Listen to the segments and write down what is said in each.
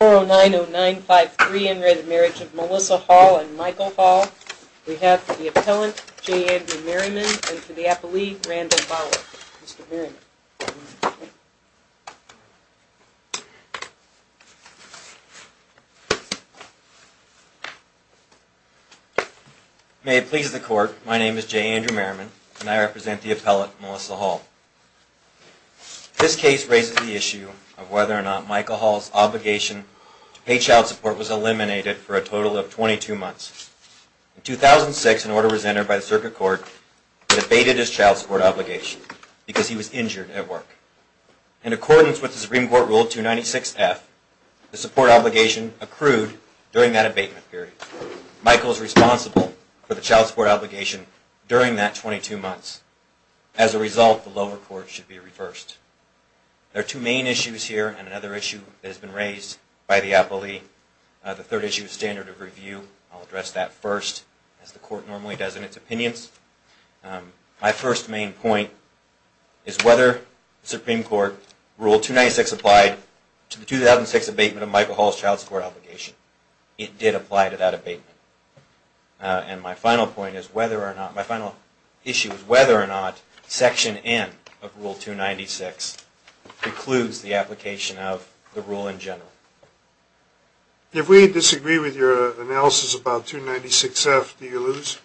4 0 9 0 9 5 3 in re Marriage of Melissa Hall and Michael Hall. We have the appellant J. Andrew Merriman and for the appellee, Randall Bauer. Mr. Merriman. May it please the court. My name is J. Andrew Merriman and I represent the appellate Melissa Hall. This case raises the issue of whether or not Michael Hall's obligation to pay child support was eliminated for a total of 22 months. In 2006, an order was entered by the Circuit Court that abated his child support obligation because he was injured at work. In accordance with the Supreme Court Rule 296F, the support obligation accrued during that abatement period. Michael is responsible for should be reversed. There are two main issues here and another issue that has been raised by the appellee. The third issue is standard of review. I'll address that first, as the court normally does in its opinions. My first main point is whether the Supreme Court Rule 296 applied to the 2006 abatement of Michael Hall's child support obligation. It did apply to that abatement. And my final issue is whether or not Section N of Rule 296 precludes the application of the rule in general. If we disagree with your analysis about 296F, do you lose?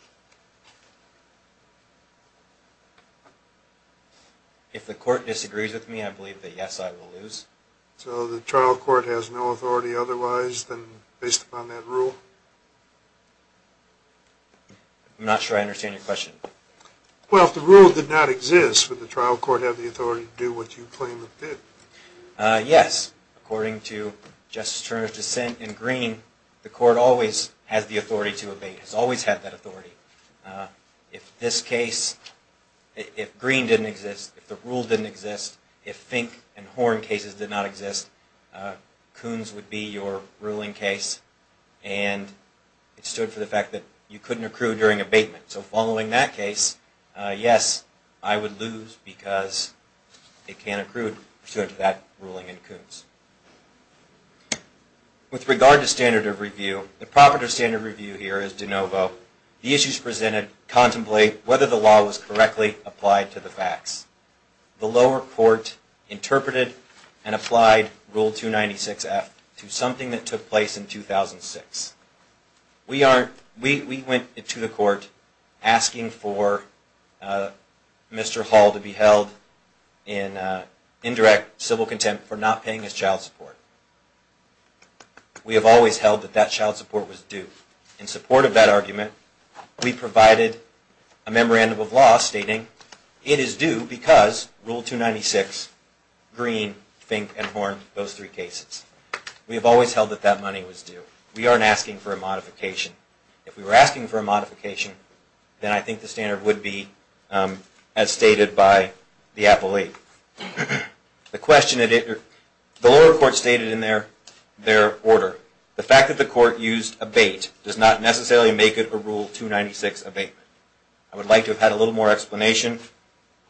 If the court disagrees with me, I believe that yes, I will lose. So the trial court has no authority otherwise than based upon that question. Well, if the rule did not exist, would the trial court have the authority to do what you claim it did? Yes. According to Justice Turner's dissent in Green, the court always has the authority to abate. It has always had that authority. If this case, if Green didn't exist, if the rule didn't exist, if Fink and Horn cases did not exist, Coons would be your ruling case. And it stood for the ruling in that case. Yes, I would lose because it can't accrue to that ruling in Coons. With regard to standard of review, the proper standard of review here is de novo. The issues presented contemplate whether the law was correctly applied to the facts. The lower court interpreted and applied Rule 296F to something that took place in 2006. We went to the court asking for Mr. Hall to be held in indirect civil contempt for not paying his child support. We have always held that that child support was due. In support of that argument, we provided a memorandum of law stating it is due because Rule 296, Green, Fink, and Horn, those three cases. We have always held that that money was due. We aren't asking for a modification. If we were asking for a modification, then I think the standard would be as stated by the appellee. The lower court stated in their order, the fact that the court used abate does not necessarily make it a Rule 296 abatement. I would like to have had a little more explanation,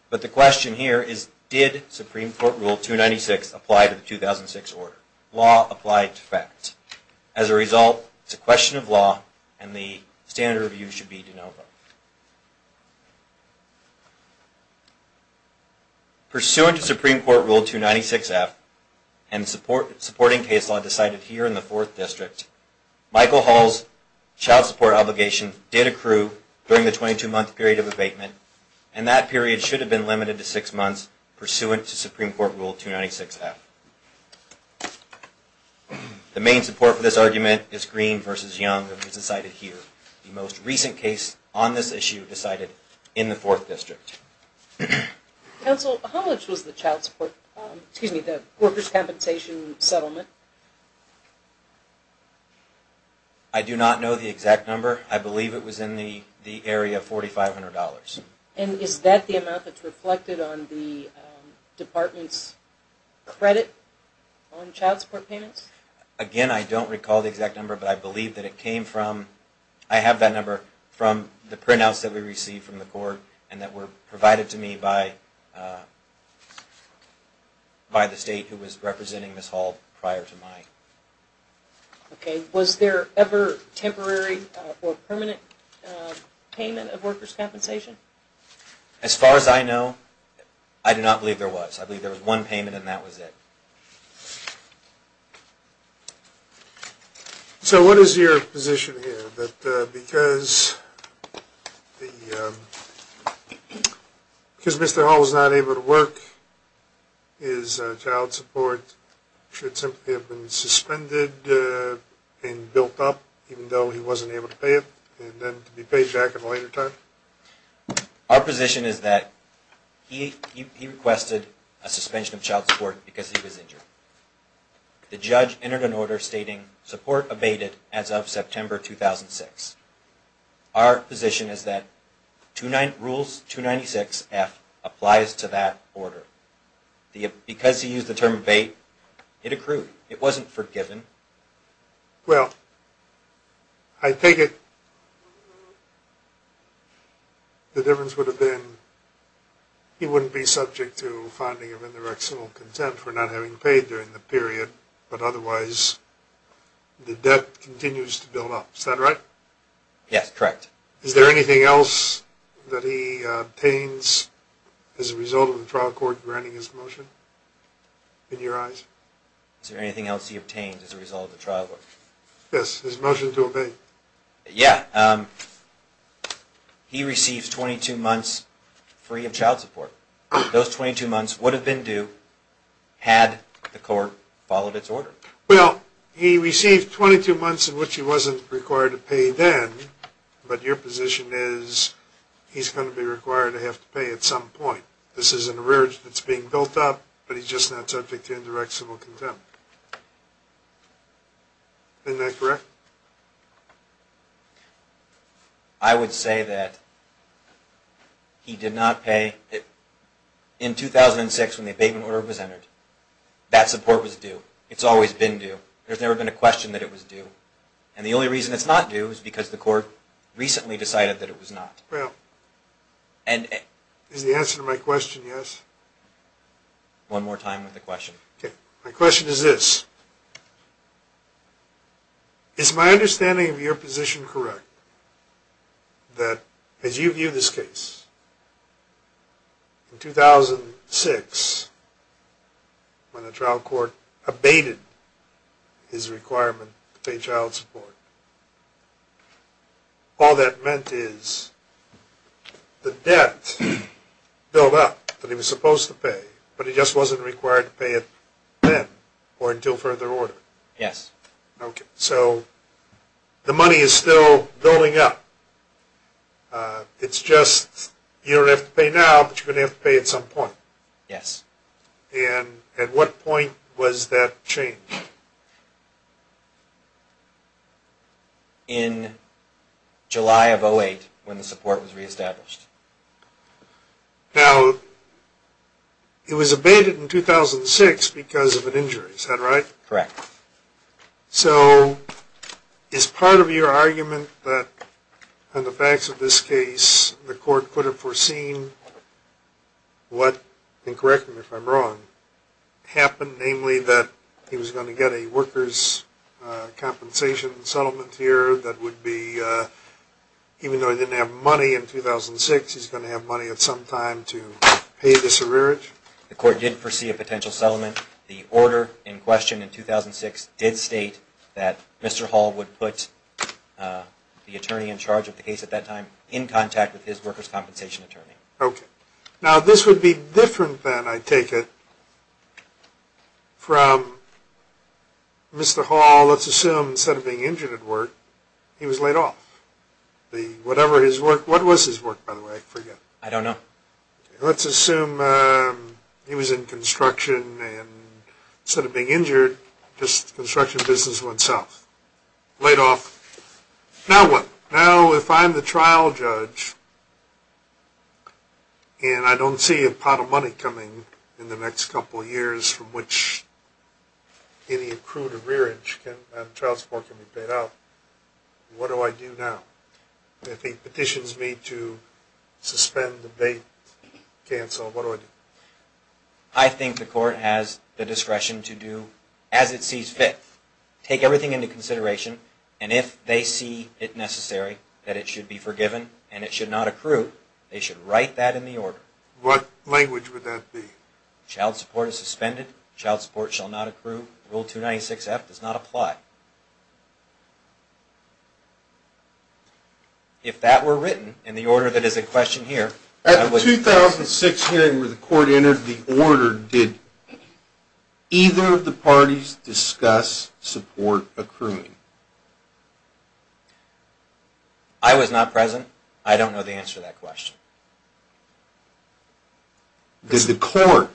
but the question here is did Supreme Court Rule 296 apply to 2006 order? Law applied to facts. As a result, it's a question of law and the standard of review should be de novo. Pursuant to Supreme Court Rule 296F and supporting case law decided here in the Fourth District, Michael Hall's child support obligation did accrue during the 22-month period of abatement, and that period should have been The main support for this argument is Green v. Young, and it was decided here. The most recent case on this issue decided in the Fourth District. Counsel, how much was the child support, excuse me, the workers' compensation settlement? I do not know the exact number. I believe it was in the area of $4,500. And is that the amount that's on child support payments? Again, I don't recall the exact number, but I believe that it came from, I have that number from the printouts that we received from the court and that were provided to me by the state who was representing Ms. Hall prior to mine. Okay. Was there ever temporary or permanent payment of workers' compensation? As far as I know, I do not believe there was. I believe there was one payment, and that was it. So what is your position here that because Mr. Hall was not able to work, his child support should simply have been suspended and built up even though he wasn't able to pay it and then to be paid back at a later time? Our position is that he requested a suspension of child support because he was injured. The judge entered an order stating support abated as of September 2006. Our position is that Rules 296F applies to that order. Because he used the term abate, it accrued. It wasn't forgiven. Well, I take it the difference would have been he wouldn't be subject to finding of interectional contempt for not having paid during the period, but otherwise the debt continues to build up. Is that right? Yes, correct. Is there anything else that he obtains as a result of the trial court granting his motion in your eyes? Is there anything else he obtains as a result of the trial court? Yes, his motion to Well, he received 22 months in which he wasn't required to pay then, but your position is he's going to be required to have to pay at some point. This is an arrearage that's being built up, but he's just not subject to interectional contempt. Isn't that correct? I would say that he did not pay in 2006 when the abatement order was entered. That support was due. It's always been due. There's never been a question that it was due. And the only reason it's not due is because the court recently decided that it was not. Well, is the answer to my question yes? One more In 2006, when the trial court abated his requirement to pay child support, all that meant is the debt built up that he was supposed to pay, but he just wasn't required to pay it then or until further order? Yes. Okay, so the money is still building up. It's just you don't have to pay now, but you're going to have to pay at some point? Yes. And at what point was that changed? In July of 2008 when the support was reestablished. Now, it was abated in 2006 because of an injury. Is that right? Correct. So, is part of your argument that on the facts of this case, the court could have foreseen what, and correct me if I'm wrong, happened, namely that he was going to get a workers' compensation settlement here that would be, even though he didn't have money in 2006, he's going to have money at some time to pay this arrearage? The court did foresee a potential settlement. The order in question in 2006 did state that Mr. Hall would put the attorney in charge of the case at that time in contact with his workers' compensation attorney. Okay. Now, this would be different than, I take it, from Mr. Hall, let's assume, instead of being injured at work, he was laid off. Whatever his work, what was his work, by the way? I forget. I don't know. Let's assume he was in construction and instead of being injured, just construction business himself. Laid off. Now what? Now, if I'm the trial judge and I don't see a pot of money coming in the next couple of years from which any accrued arrearage and trial support can be paid out, what do I do now? If he petitions me to suspend the date, cancel, what do I do? I think the court has the discretion to do, as it sees fit, take everything into consideration, and if they see it necessary that it should be forgiven and it should not accrue, they should write that in the order. What language would that be? Child support is suspended. Child support shall not accrue. Rule 296F does not apply. If that were written in the order that is in question here... At the 2006 hearing where the court entered the order, did either of the parties discuss support accruing? I was not present. I don't know the answer to that question. Did the court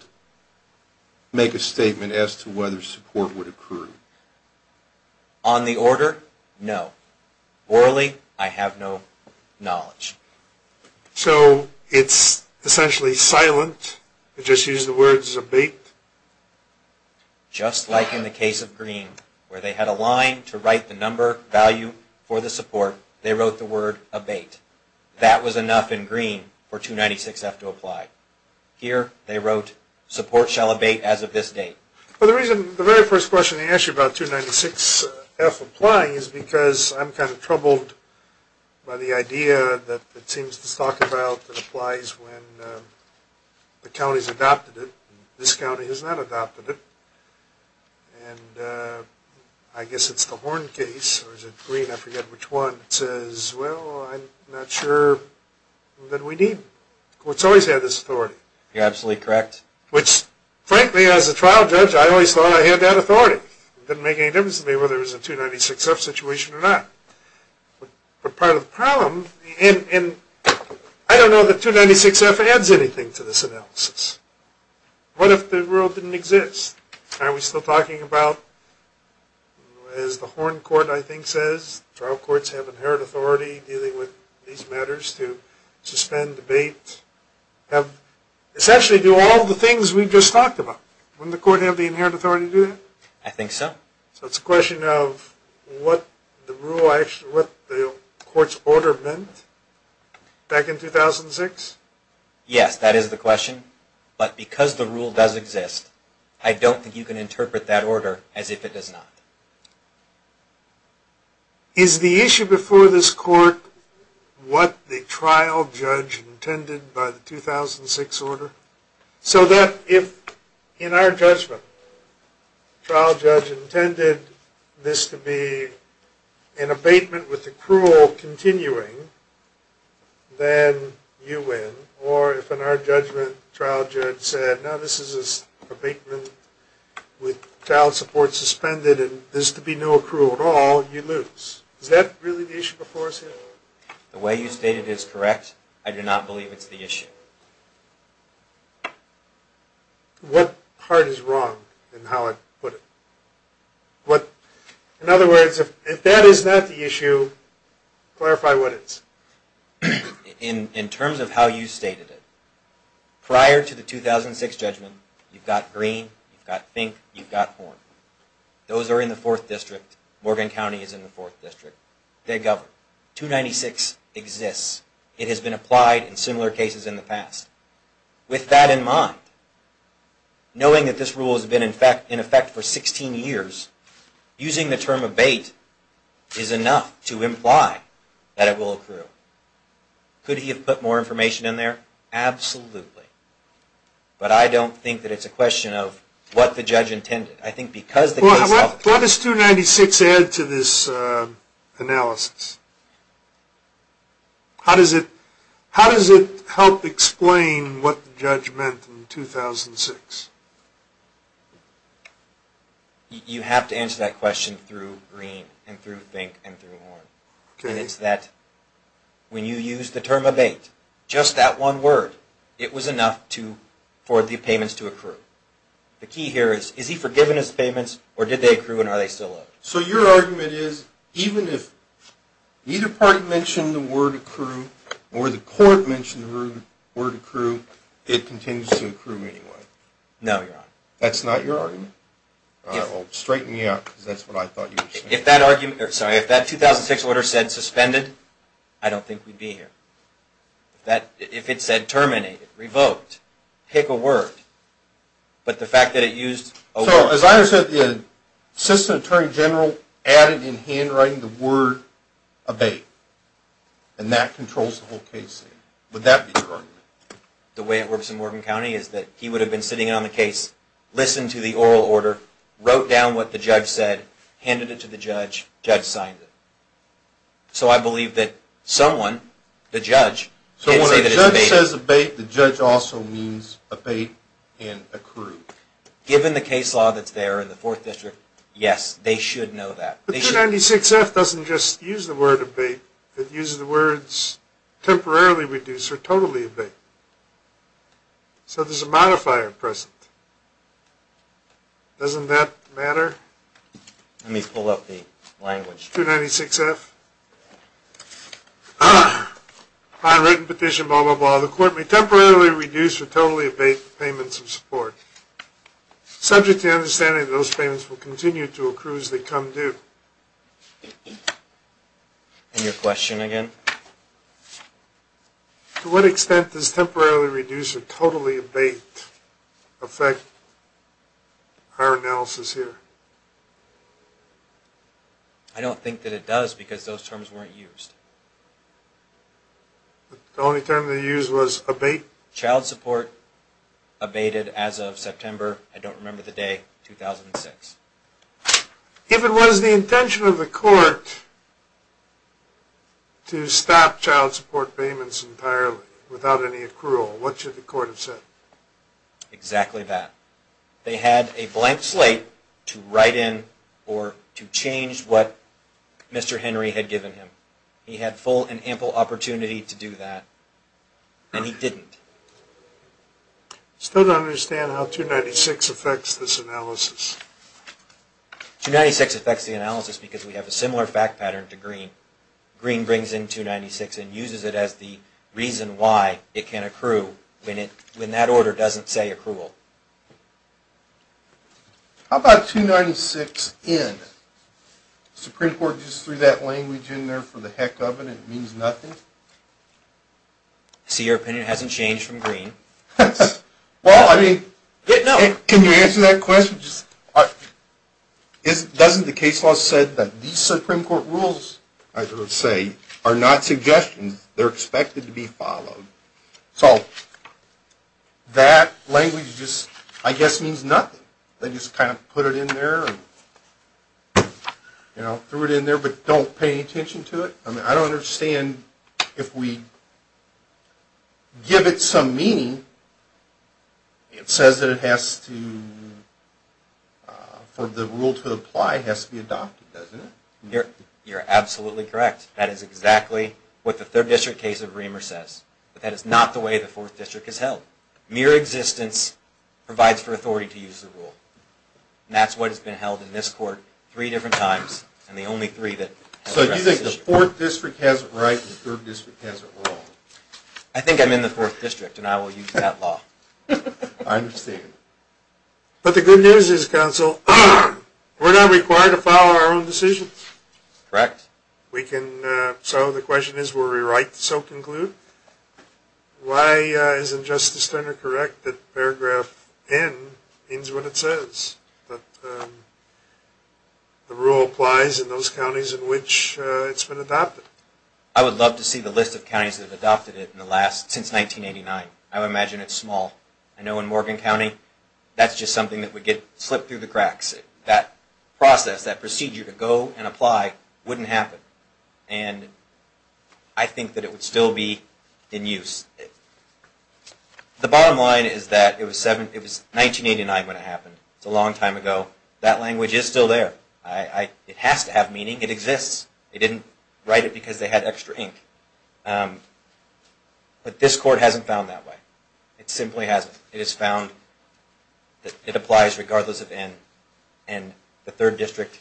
make a statement as to whether support would accrue? On the order, no. Orally, I have no knowledge. So, it's essentially silent, just use the words abate? Just like in the case of Green, where they had a line to write the number value for the support, they wrote the word abate. That was enough in Green for 296F to apply. Here, they wrote support shall abate as of this date. Well, the very first question they ask you about 296F applying is because I'm kind of troubled by the idea that it seems to talk about that applies when the county's adopted it. This county has not adopted it. And I guess it's the Horn case, or is it Green? I forget which one. It says, well, I'm not sure that we need... The court's always had this authority. You're absolutely correct. Which, frankly, as a trial judge, I always thought I had that authority. It didn't make any difference to me whether it was a 296F situation or not. But part of the problem, and I don't know that 296F adds anything to this analysis. What if the rule didn't exist? Aren't we still talking about, as the Horn court, I think, says, trial courts have inherent authority dealing with these matters to suspend, abate, essentially do all the things we just talked about. Wouldn't the court have the inherent authority to do that? I think so. So it's a question of what the court's order meant back in 2006? Yes, that is the question. But because the rule does exist, I don't think you can interpret that order as if it does not. Is the issue before this court what the trial judge intended by the 2006 order? So that if, in our judgment, the trial judge intended this to be an abatement with accrual continuing, then you win. Or if, in our judgment, the trial judge said, no, this is an abatement with trial support suspended and there's to be no accrual at all, you lose. Is that really the issue before us here? The way you state it is correct. I do not believe it's the issue. What part is wrong in how I put it? In other words, if that is not the issue, clarify what is. In terms of how you stated it, prior to the 2006 judgment, you've got Green, you've got Pink, you've got Horn. Those are in the 4th District. Morgan County is in the 4th District. They govern. 296 exists. It has been applied in similar cases in the past. With that in mind, knowing that this rule has been in effect for 16 years, using the term abate is enough to imply that it will accrue. Could he have put more information in there? Absolutely. But I don't think that it's a question of what the judge intended. What does 296 add to this analysis? How does it help explain what the judge meant in 2006? You have to answer that question through Green and through Pink and through Horn. It's that when you use the term abate, just that one word, it was enough for the payments to accrue. The key here is, is he forgiving his payments or did they accrue and are they still owed? So your argument is, even if either party mentioned the word accrue or the court mentioned the word accrue, it continues to accrue anyway? No, Your Honor. That's not your argument? If that 2006 order said suspended, I don't think we'd be here. If it said terminated, revoked, pick a word, but the fact that it used a word. So as I understand it, the Assistant Attorney General added in handwriting the word abate, and that controls the whole case. Would that be your argument? The way it works in Morgan County is that he would have been sitting on the case, listened to the oral order, wrote down what the judge said, handed it to the judge, and the judge signed it. So I believe that someone, the judge, can say that it's abate. If it says abate, the judge also means abate and accrue. Given the case law that's there in the 4th District, yes, they should know that. But 296F doesn't just use the word abate. It uses the words temporarily reduce or totally abate. So there's a modifier present. Doesn't that matter? Let me pull up the language. 296F. On written petition blah, blah, blah, the court may temporarily reduce or totally abate the payments of support, subject to the understanding that those payments will continue to accrue as they come due. And your question again? To what extent does temporarily reduce or totally abate affect our analysis here? I don't think that it does because those terms weren't used. The only term they used was abate? Child support abated as of September, I don't remember the day, 2006. If it was the intention of the court to stop child support payments entirely, without any accrual, what should the court have said? Exactly that. They had a blank slate to write in or to change what Mr. Henry had given him. He had full and ample opportunity to do that, and he didn't. Still don't understand how 296 affects this analysis. 296 affects the analysis because we have a similar fact pattern to Green. Green brings in 296 and uses it as the reason why it can accrue when that order doesn't say accrual. How about 296N? Supreme Court just threw that language in there for the heck of it and it means nothing? I see your opinion hasn't changed from Green. Well, I mean, can you answer that question? Doesn't the case law say that these Supreme Court rules, I would say, are not suggestions. They're expected to be followed. So that language just, I guess, means nothing. They just kind of put it in there and threw it in there but don't pay any attention to it. I mean, I don't understand if we give it some meaning. It says that it has to, for the rule to apply, it has to be adopted, doesn't it? You're absolutely correct. That is exactly what the Third District case of Reamer says. But that is not the way the Fourth District is held. Mere existence provides for authority to use the rule. And that's what has been held in this court three different times and the only three that… So do you think the Fourth District has it right and the Third District has it wrong? I think I'm in the Fourth District and I will use that law. I understand. But the good news is, counsel, we're not required to file our own decisions. Correct. We can, so the question is, were we right to so conclude? Why isn't Justice Turner correct that paragraph N means what it says, that the rule applies in those counties in which it's been adopted? I would love to see the list of counties that have adopted it since 1989. I would imagine it's small. I know in Morgan County, that's just something that would get slipped through the cracks. That process, that procedure to go and apply wouldn't happen. And I think that it would still be in use. The bottom line is that it was 1989 when it happened. It's a long time ago. That language is still there. It has to have meaning. It exists. They didn't write it because they had extra ink. But this court hasn't found that way. It simply hasn't. It has found that it applies regardless of N. And the third district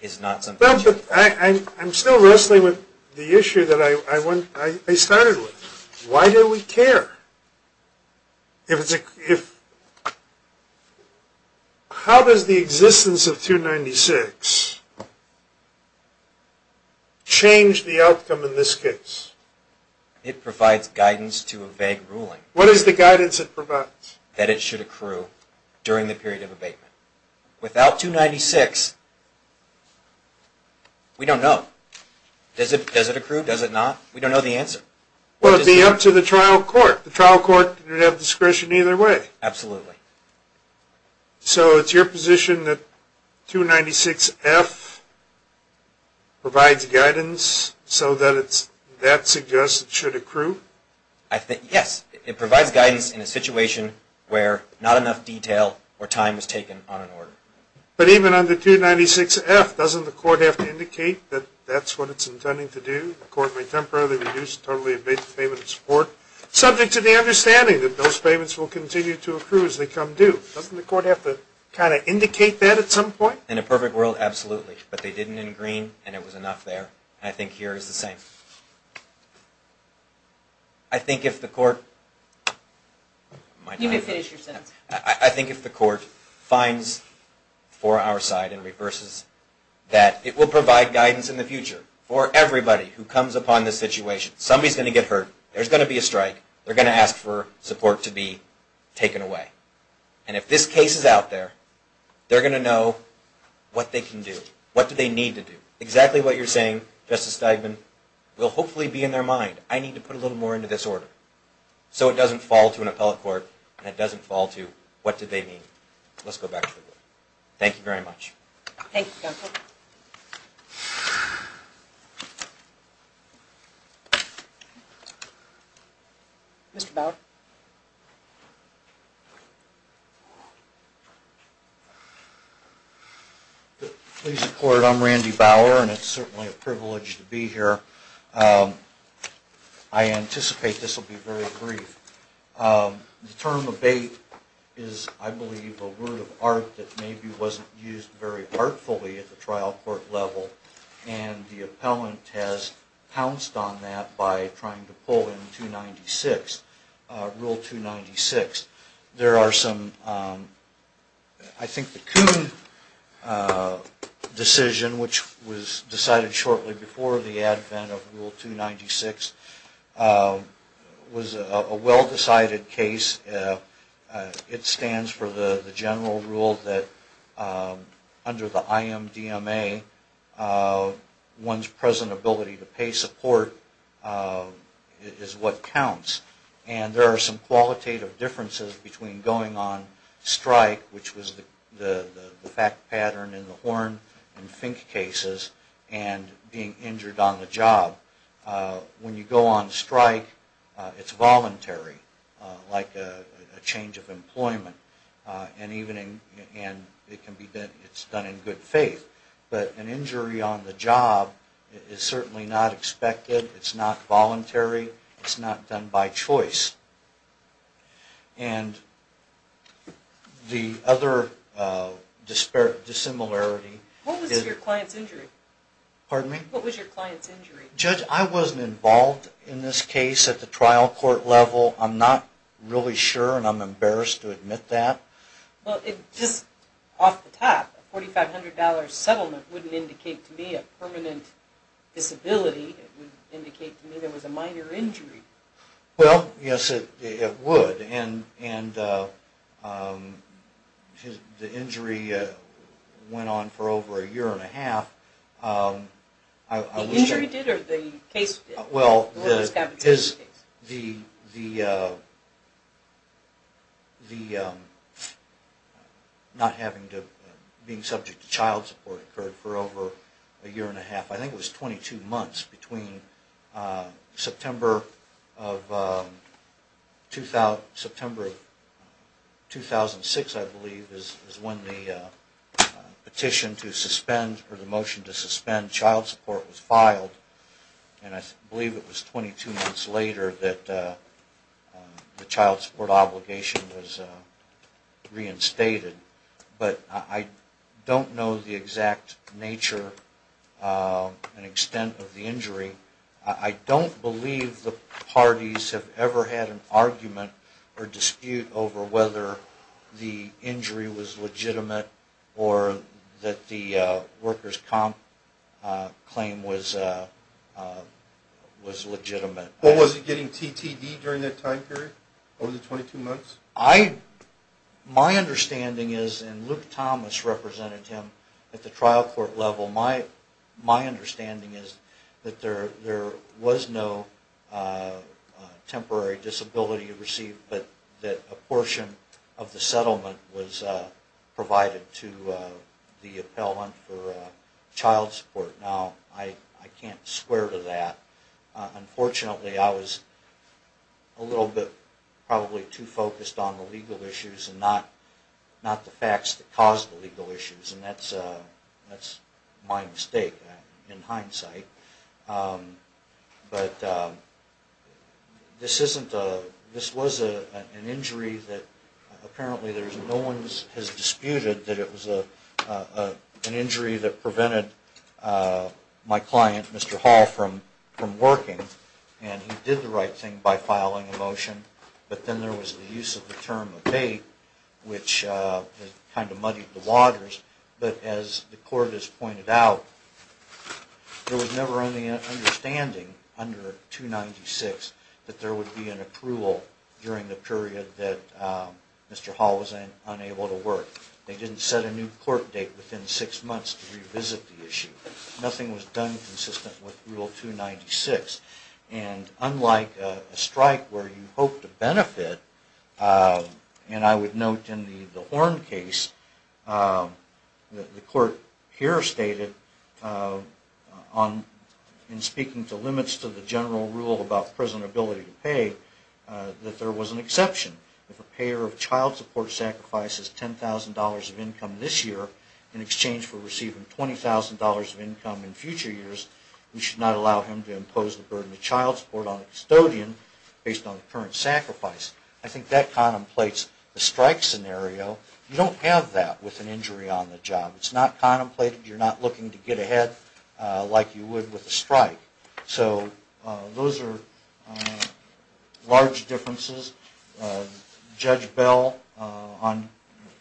is not something... I'm still wrestling with the issue that I started with. Why do we care? How does the existence of 296 change the outcome in this case? It provides guidance to a vague ruling. What is the guidance it provides? That it should accrue during the period of abatement. Without 296, we don't know. Does it accrue? Does it not? We don't know the answer. Well, it would be up to the trial court. The trial court would have discretion either way. Absolutely. So it's your position that 296F provides guidance so that suggests it should accrue? Yes. It provides guidance in a situation where not enough detail or time is taken on an order. But even under 296F, doesn't the court have to indicate that that's what it's intending to do? The court may temporarily reduce totally abated payment of support, subject to the understanding that those payments will continue to accrue as they come due. Doesn't the court have to kind of indicate that at some point? In a perfect world, absolutely. But they didn't in green, and it was enough there. And I think here it's the same. I think if the court finds for our side and reverses that, it will provide guidance in the future for everybody who comes upon this situation. Somebody's going to get hurt. There's going to be a strike. They're going to ask for support to be taken away. And if this case is out there, they're going to know what they can do. What do they need to do? Exactly what you're saying, Justice Steigman, will hopefully be in their mind. I need to put a little more into this order. So it doesn't fall to an appellate court, and it doesn't fall to what do they need. Let's go back to the board. Thank you very much. Thank you, counsel. Mr. Bauer? Please support. I'm Randy Bauer, and it's certainly a privilege to be here. I anticipate this will be very brief. The term abate is, I believe, a word of art that maybe wasn't used very artfully at the trial court level, and the appellant has pounced on that by trying to pull in Rule 296. There are some, I think the Coon decision, which was decided shortly before the advent of Rule 296, was a well-decided case. It stands for the general rule that under the IMDMA, one's present ability to pay support is what counts. And there are some qualitative differences between going on strike, which was the fact pattern in the Horn and Fink cases, and being injured on the job. When you go on strike, it's voluntary, like a change of employment, and it's done in good faith. But an injury on the job is certainly not expected. It's not voluntary. It's not done by choice. And the other dissimilarity is... What was your client's injury? Pardon me? What was your client's injury? Judge, I wasn't involved in this case at the trial court level. I'm not really sure, and I'm embarrassed to admit that. Well, just off the top, a $4,500 settlement wouldn't indicate to me a permanent disability. It would indicate to me there was a minor injury. Well, yes, it would. And the injury went on for over a year and a half. The injury did, or the case did? Well, the... What was the competition case? The not having to... Being subject to child support occurred for over a year and a half. I think it was 22 months between September of 2006, I believe, is when the petition to suspend, or the motion to suspend child support was filed. And I believe it was 22 months later that the child support obligation was reinstated. But I don't know the exact nature and extent of the injury. I don't believe the parties have ever had an argument or dispute over whether the injury was legitimate or that the workers' comp claim was legitimate. But was he getting TTD during that time period, over the 22 months? My understanding is, and Luke Thomas represented him at the trial court level, my understanding is that there was no temporary disability received, but that a portion of the settlement was provided to the appellant for child support. Now, I can't swear to that. Unfortunately, I was a little bit probably too focused on the legal issues and not the facts that caused the legal issues. And that's my mistake, in hindsight. But this wasn't an injury that apparently no one has disputed, that it was an injury that prevented my client, Mr. Hall, from working. And he did the right thing by filing a motion. But then there was the use of the term abate, which kind of muddied the waters. But as the court has pointed out, there was never any understanding under 296 that there would be an approval during the period that Mr. Hall was unable to work. They didn't set a new court date within six months to revisit the issue. Nothing was done consistent with Rule 296. And unlike a strike where you hope to benefit, and I would note in the Horn case, the court here stated, in speaking to limits to the general rule about prison ability to pay, that there was an exception. If a payer of child support sacrifices $10,000 of income this year, in exchange for receiving $20,000 of income in future years, we should not allow him to impose the burden of child support on a custodian based on the current sacrifice. I think that contemplates the strike scenario. You don't have that with an injury on the job. It's not contemplated. You're not looking to get ahead like you would with a strike. So those are large differences. Judge Bell on...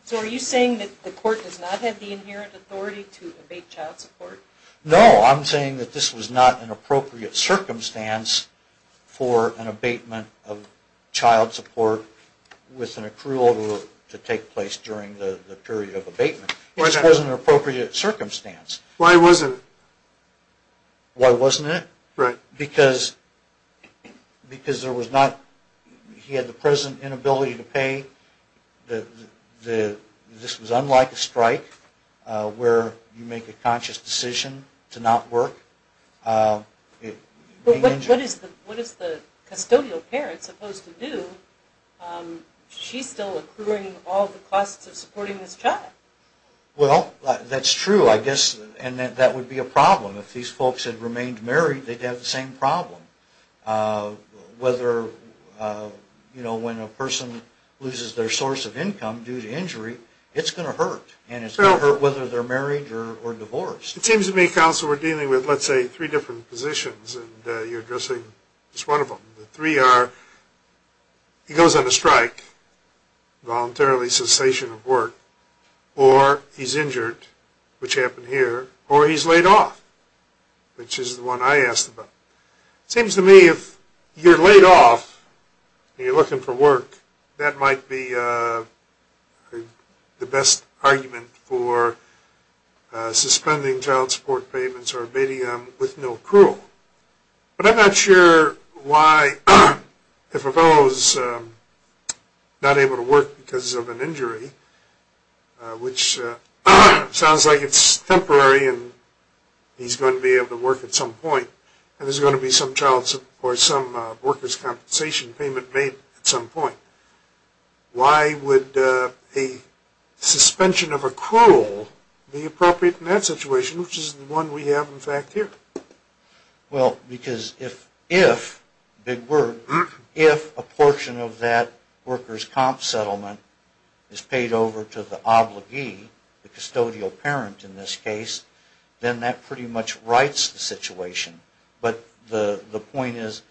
So are you saying that the court does not have the inherent authority to abate child support? No, I'm saying that this was not an appropriate circumstance for an abatement of child support with an accrual to take place during the period of abatement. It just wasn't an appropriate circumstance. Why wasn't it? Why wasn't it? Right. Because there was not... He had the present inability to pay. This was unlike a strike where you make a conscious decision to not work. What is the custodial parent supposed to do? She's still accruing all the costs of supporting this child. Well, that's true, I guess. And that would be a problem. If these folks had remained married, they'd have the same problem. Whether, you know, when a person loses their source of income due to injury, it's going to hurt. And it's going to hurt whether they're married or divorced. It seems to me, counsel, we're dealing with, let's say, three different positions, and you're addressing just one of them. The three are he goes on a strike, voluntarily cessation of work, or he's injured, which happened here, or he's laid off, which is the one I asked about. It seems to me if you're laid off and you're looking for work, that might be the best argument for suspending child support payments or abating them with no accrual. But I'm not sure why if a fellow's not able to work because of an injury, which sounds like it's temporary and he's going to be able to work at some point, and there's going to be some child support or some worker's compensation payment made at some point, why would a suspension of accrual be appropriate in that situation, which is the one we have in fact here? Well, because if, big word, if a portion of that worker's comp settlement is paid over to the obligee, the custodial parent in this case, then that pretty much rights the situation. But the point is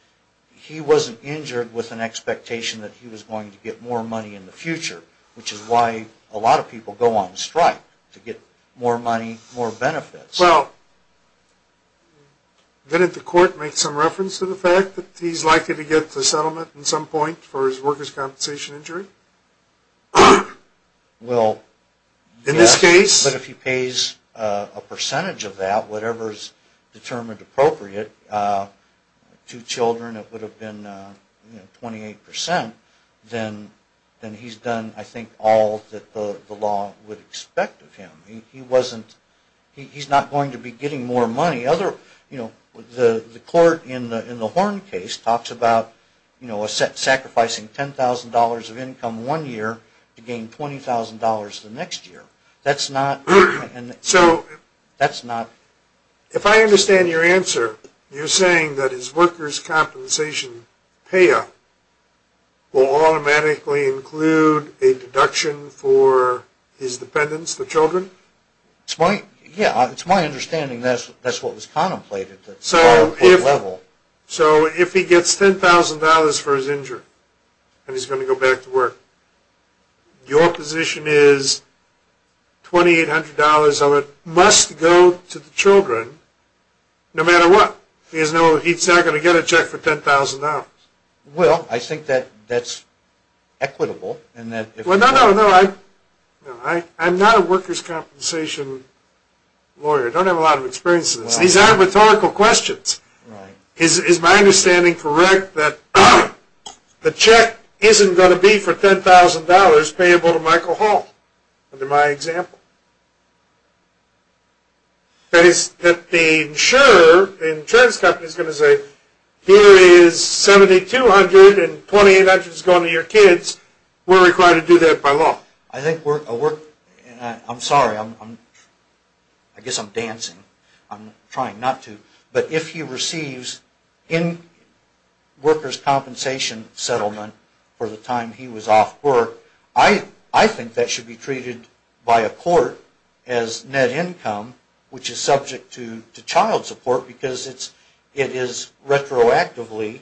he wasn't injured with an expectation that he was going to get more money in the future, which is why a lot of people go on strike to get more money, more benefits. Well, didn't the court make some reference to the fact that he's likely to get the settlement at some point for his worker's compensation injury? Well, but if he pays a percentage of that, whatever is determined appropriate, two children it would have been 28%, then he's done I think all that the law would expect of him. He's not going to be getting more money. The court in the Horn case talks about sacrificing $10,000 of income one year to gain $20,000 the next year. If I understand your answer, you're saying that his worker's compensation payout will automatically include a deduction for his dependents, the children? Yeah, it's my understanding that's what was contemplated. So if he gets $10,000 for his injury and he's going to go back to work, your position is $2,800 of it must go to the children no matter what. He's not going to get a check for $10,000. Well, I think that's equitable. No, no, I'm not a worker's compensation lawyer. I don't have a lot of experience in this. These aren't rhetorical questions. Is my understanding correct that the check isn't going to be for $10,000 payable to Michael Hall under my example? That is, that the insurer, the insurance company is going to say, here is $7,200 and $2,800 is going to your kids. We're required to do that by law. I'm sorry, I guess I'm dancing. I'm trying not to. But if he receives in-worker's compensation settlement for the time he was off work, I think that should be treated by a court as net income, which is subject to child support because it is retroactively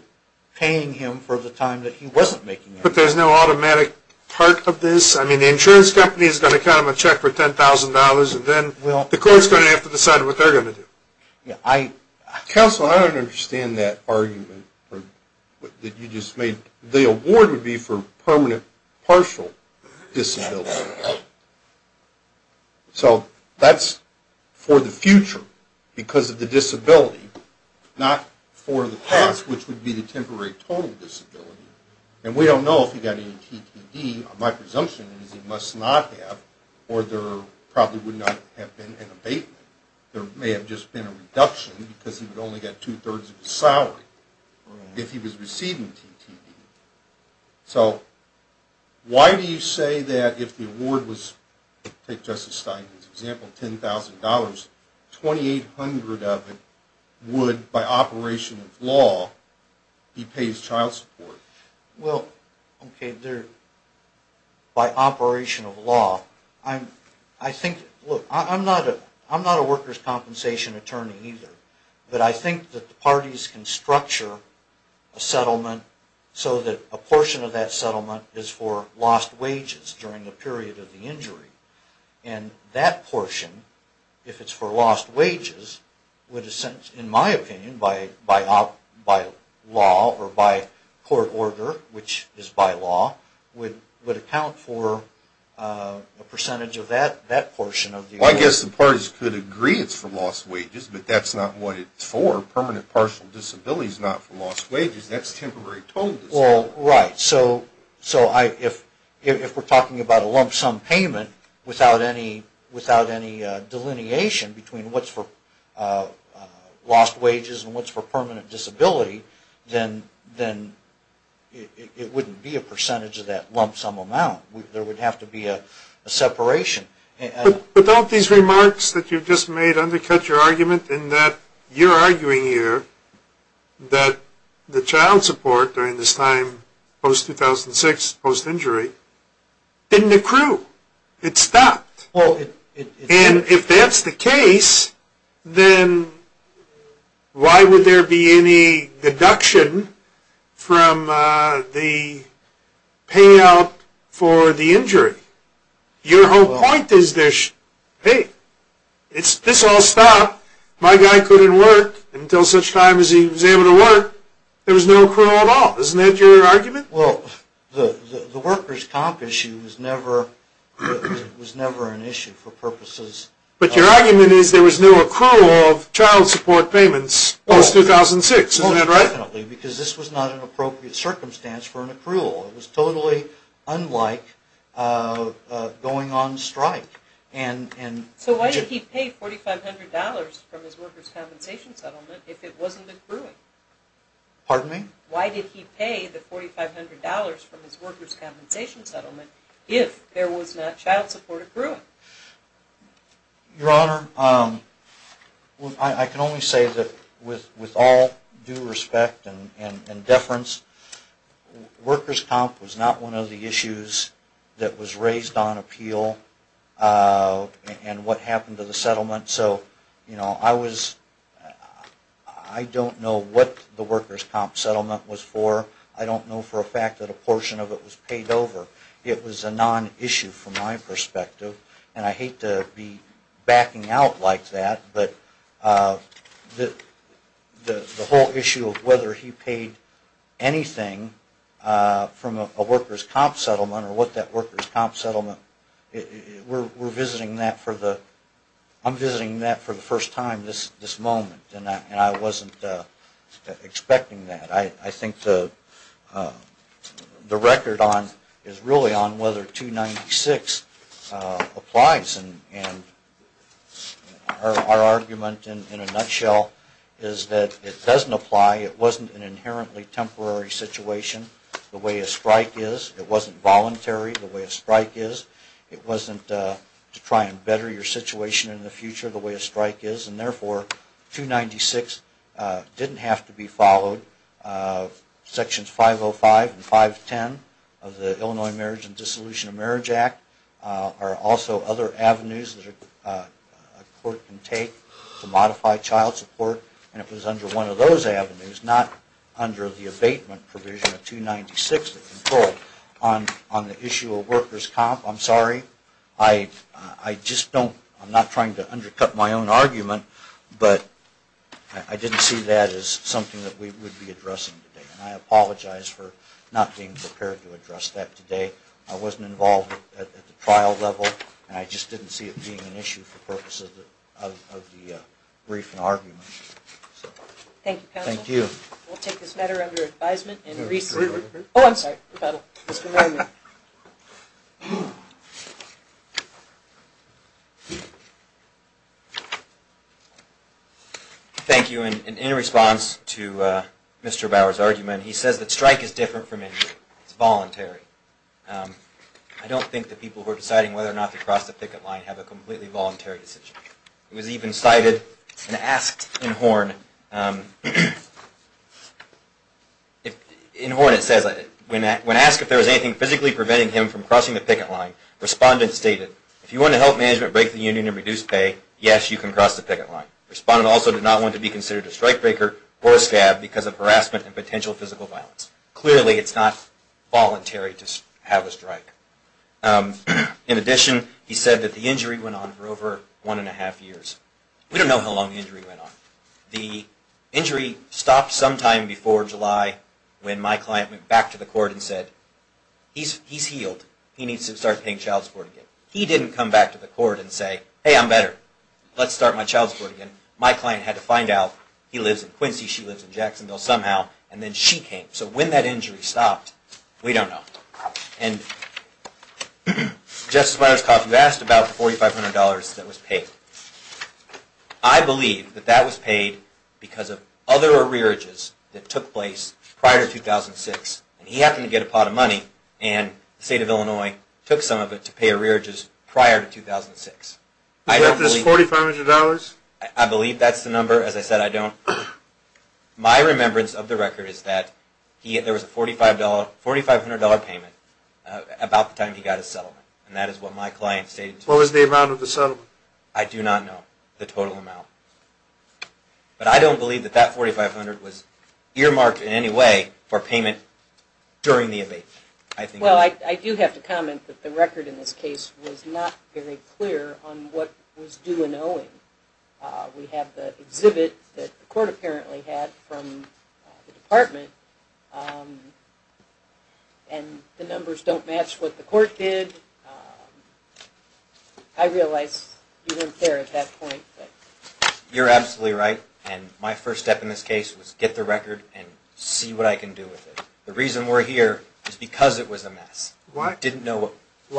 paying him for the time that he wasn't making. But there's no automatic part of this? I mean, the insurance company is going to count him a check for $10,000 and then the court is going to have to decide what they're going to do. Counsel, I don't understand that argument that you just made. The award would be for permanent partial disability. So that's for the future because of the disability, not for the past, which would be the temporary total disability. And we don't know if he got any TTD. My presumption is he must not have or there probably would not have been an abatement. There may have just been a reduction because he would only get two-thirds of his salary if he was receiving TTD. So why do you say that if the award was, take Justice Steinman's example, $10,000, $2,800 of it would, by operation of law, be paid as child support? Well, okay, by operation of law. I think, look, I'm not a workers' compensation attorney either, but I think that the parties can structure a settlement so that a portion of that settlement is for lost wages during the period of the injury. And that portion, if it's for lost wages, would, in my opinion, by law or by court order, which is by law, would account for a percentage of that portion of the award. Well, I guess the parties could agree it's for lost wages, but that's not what it's for. Permanent partial disability is not for lost wages. That's temporary total disability. Well, right. So if we're talking about a lump sum payment without any delineation between what's for lost wages and what's for permanent disability, then it wouldn't be a percentage of that lump sum amount. There would have to be a separation. But don't these remarks that you've just made undercut your argument in that you're arguing here that the child support during this time post-2006, post-injury, didn't accrue. It stopped. And if that's the case, then why would there be any deduction from the payout for the injury? Your whole point is this, hey, this all stopped. My guy couldn't work until such time as he was able to work. There was no accrual at all. Isn't that your argument? Well, the workers' comp issue was never an issue for purposes of— But your argument is there was no accrual of child support payments post-2006. Isn't that right? Most definitely, because this was not an appropriate circumstance for an accrual. It was totally unlike going on strike. So why did he pay $4,500 from his workers' compensation settlement if it wasn't accruing? Pardon me? Why did he pay the $4,500 from his workers' compensation settlement if there was not child support accruing? Your Honor, I can only say that with all due respect and deference, workers' comp was not one of the issues that was raised on appeal and what happened to the settlement. So I don't know what the workers' comp settlement was for. I don't know for a fact that a portion of it was paid over. It was a non-issue from my perspective, and I hate to be backing out like that, but the whole issue of whether he paid anything from a workers' comp settlement or what that workers' comp settlement—we're visiting that for the— I'm visiting that for the first time this moment, and I wasn't expecting that. I think the record is really on whether 296 applies, and our argument in a nutshell is that it doesn't apply. It wasn't an inherently temporary situation the way a strike is. It wasn't voluntary the way a strike is. It wasn't to try and better your situation in the future the way a strike is, and therefore 296 didn't have to be followed. Sections 505 and 510 of the Illinois Marriage and Dissolution of Marriage Act are also other avenues that a court can take to modify child support, and it was under one of those avenues, not under the abatement provision of 296, the control on the issue of workers' comp. I'm sorry. I just don't—I'm not trying to undercut my own argument, but I didn't see that as something that we would be addressing today, and I apologize for not being prepared to address that today. I wasn't involved at the trial level, and I just didn't see it being an issue for purposes of the briefing argument. Thank you, counsel. Thank you. We'll take this matter under advisement. Oh, I'm sorry. Thank you. In response to Mr. Bauer's argument, he says that strike is different from injury. It's voluntary. I don't think that people who are deciding whether or not to cross the picket line have a completely voluntary decision. It was even cited and asked in Horn. In Horn it says, when asked if there was anything physically preventing him from crossing the picket line, respondent stated, if you want to help management break the union and reduce pay, yes, you can cross the picket line. Respondent also did not want to be considered a strike breaker or a scab because of harassment and potential physical violence. Clearly, it's not voluntary to have a strike. In addition, he said that the injury went on for over one and a half years. We don't know how long the injury went on. The injury stopped sometime before July when my client went back to the court and said, he's healed. He needs to start paying child support again. He didn't come back to the court and say, hey, I'm better. Let's start my child support again. My client had to find out he lives in Quincy, she lives in Jacksonville somehow, and then she came. So when that injury stopped, we don't know. And Justice Myerscough, you asked about the $4,500 that was paid. I believe that that was paid because of other arrearages that took place prior to 2006. He happened to get a pot of money, and the state of Illinois took some of it to pay arrearages prior to 2006. Is that this $4,500? I believe that's the number. As I said, I don't. My remembrance of the record is that there was a $4,500 payment about the time he got his settlement, and that is what my client stated. What was the amount of the settlement? I do not know the total amount. But I don't believe that that $4,500 was earmarked in any way for payment during the abatement. Well, I do have to comment that the record in this case was not very clear on what was due and owing. We have the exhibit that the court apparently had from the department, and the numbers don't match what the court did. I realize you weren't there at that point. You're absolutely right, and my first step in this case was get the record and see what I can do with it. The reason we're here is because it was a mess. Why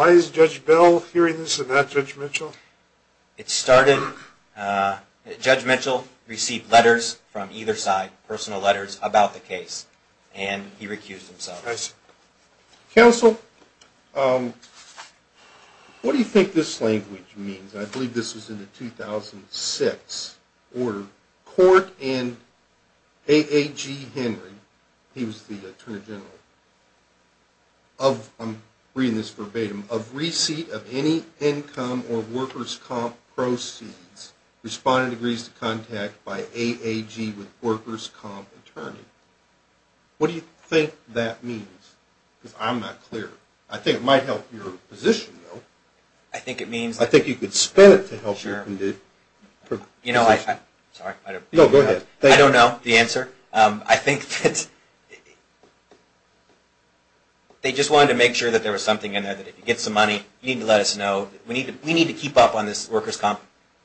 is Judge Bell hearing this and not Judge Mitchell? Judge Mitchell received letters from either side, personal letters, about the case, and he recused himself. I see. Counsel, what do you think this language means? I believe this was in the 2006 order. Court and A.A.G. Henry, he was the Attorney General, I'm reading this verbatim, of receipt of any income or workers' comp proceeds responded to contact by A.A.G. with workers' comp attorney. What do you think that means? Because I'm not clear. I think it might help your position, though. I think it means… I think you could spin it to help your position. You know, I don't know the answer. I think that they just wanted to make sure that there was something in there, that if you get some money, you need to let us know. We need to keep up on this workers' comp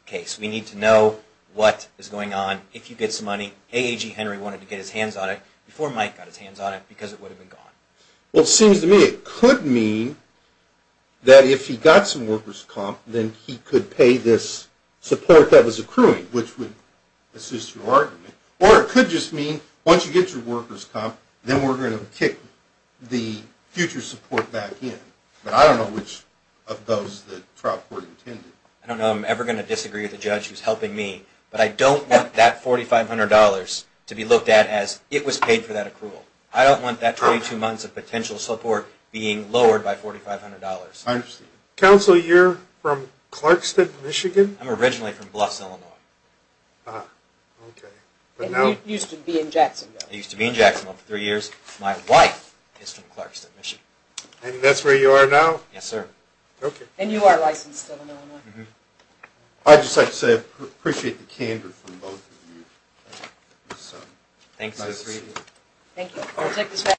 case. We need to know what is going on. If you get some money, A.A.G. Henry wanted to get his hands on it before Mike got his hands on it because it would have been gone. Well, it seems to me it could mean that if he got some workers' comp, then he could pay this support that was accruing, which would assist your argument. Or it could just mean once you get your workers' comp, then we're going to kick the future support back in. But I don't know which of those the trial court intended. I don't know if I'm ever going to disagree with the judge who's helping me, but I don't want that $4,500 to be looked at as it was paid for that accrual. I don't want that 22 months of potential support being lowered by $4,500. Counsel, you're from Clarkston, Michigan? I'm originally from Bluffs, Illinois. And you used to be in Jacksonville. I used to be in Jacksonville for three years. My wife is from Clarkston, Michigan. And that's where you are now? Yes, sir. And you are licensed still in Illinois. I'd just like to say I appreciate the candor from both of you. Thanks. Thank you.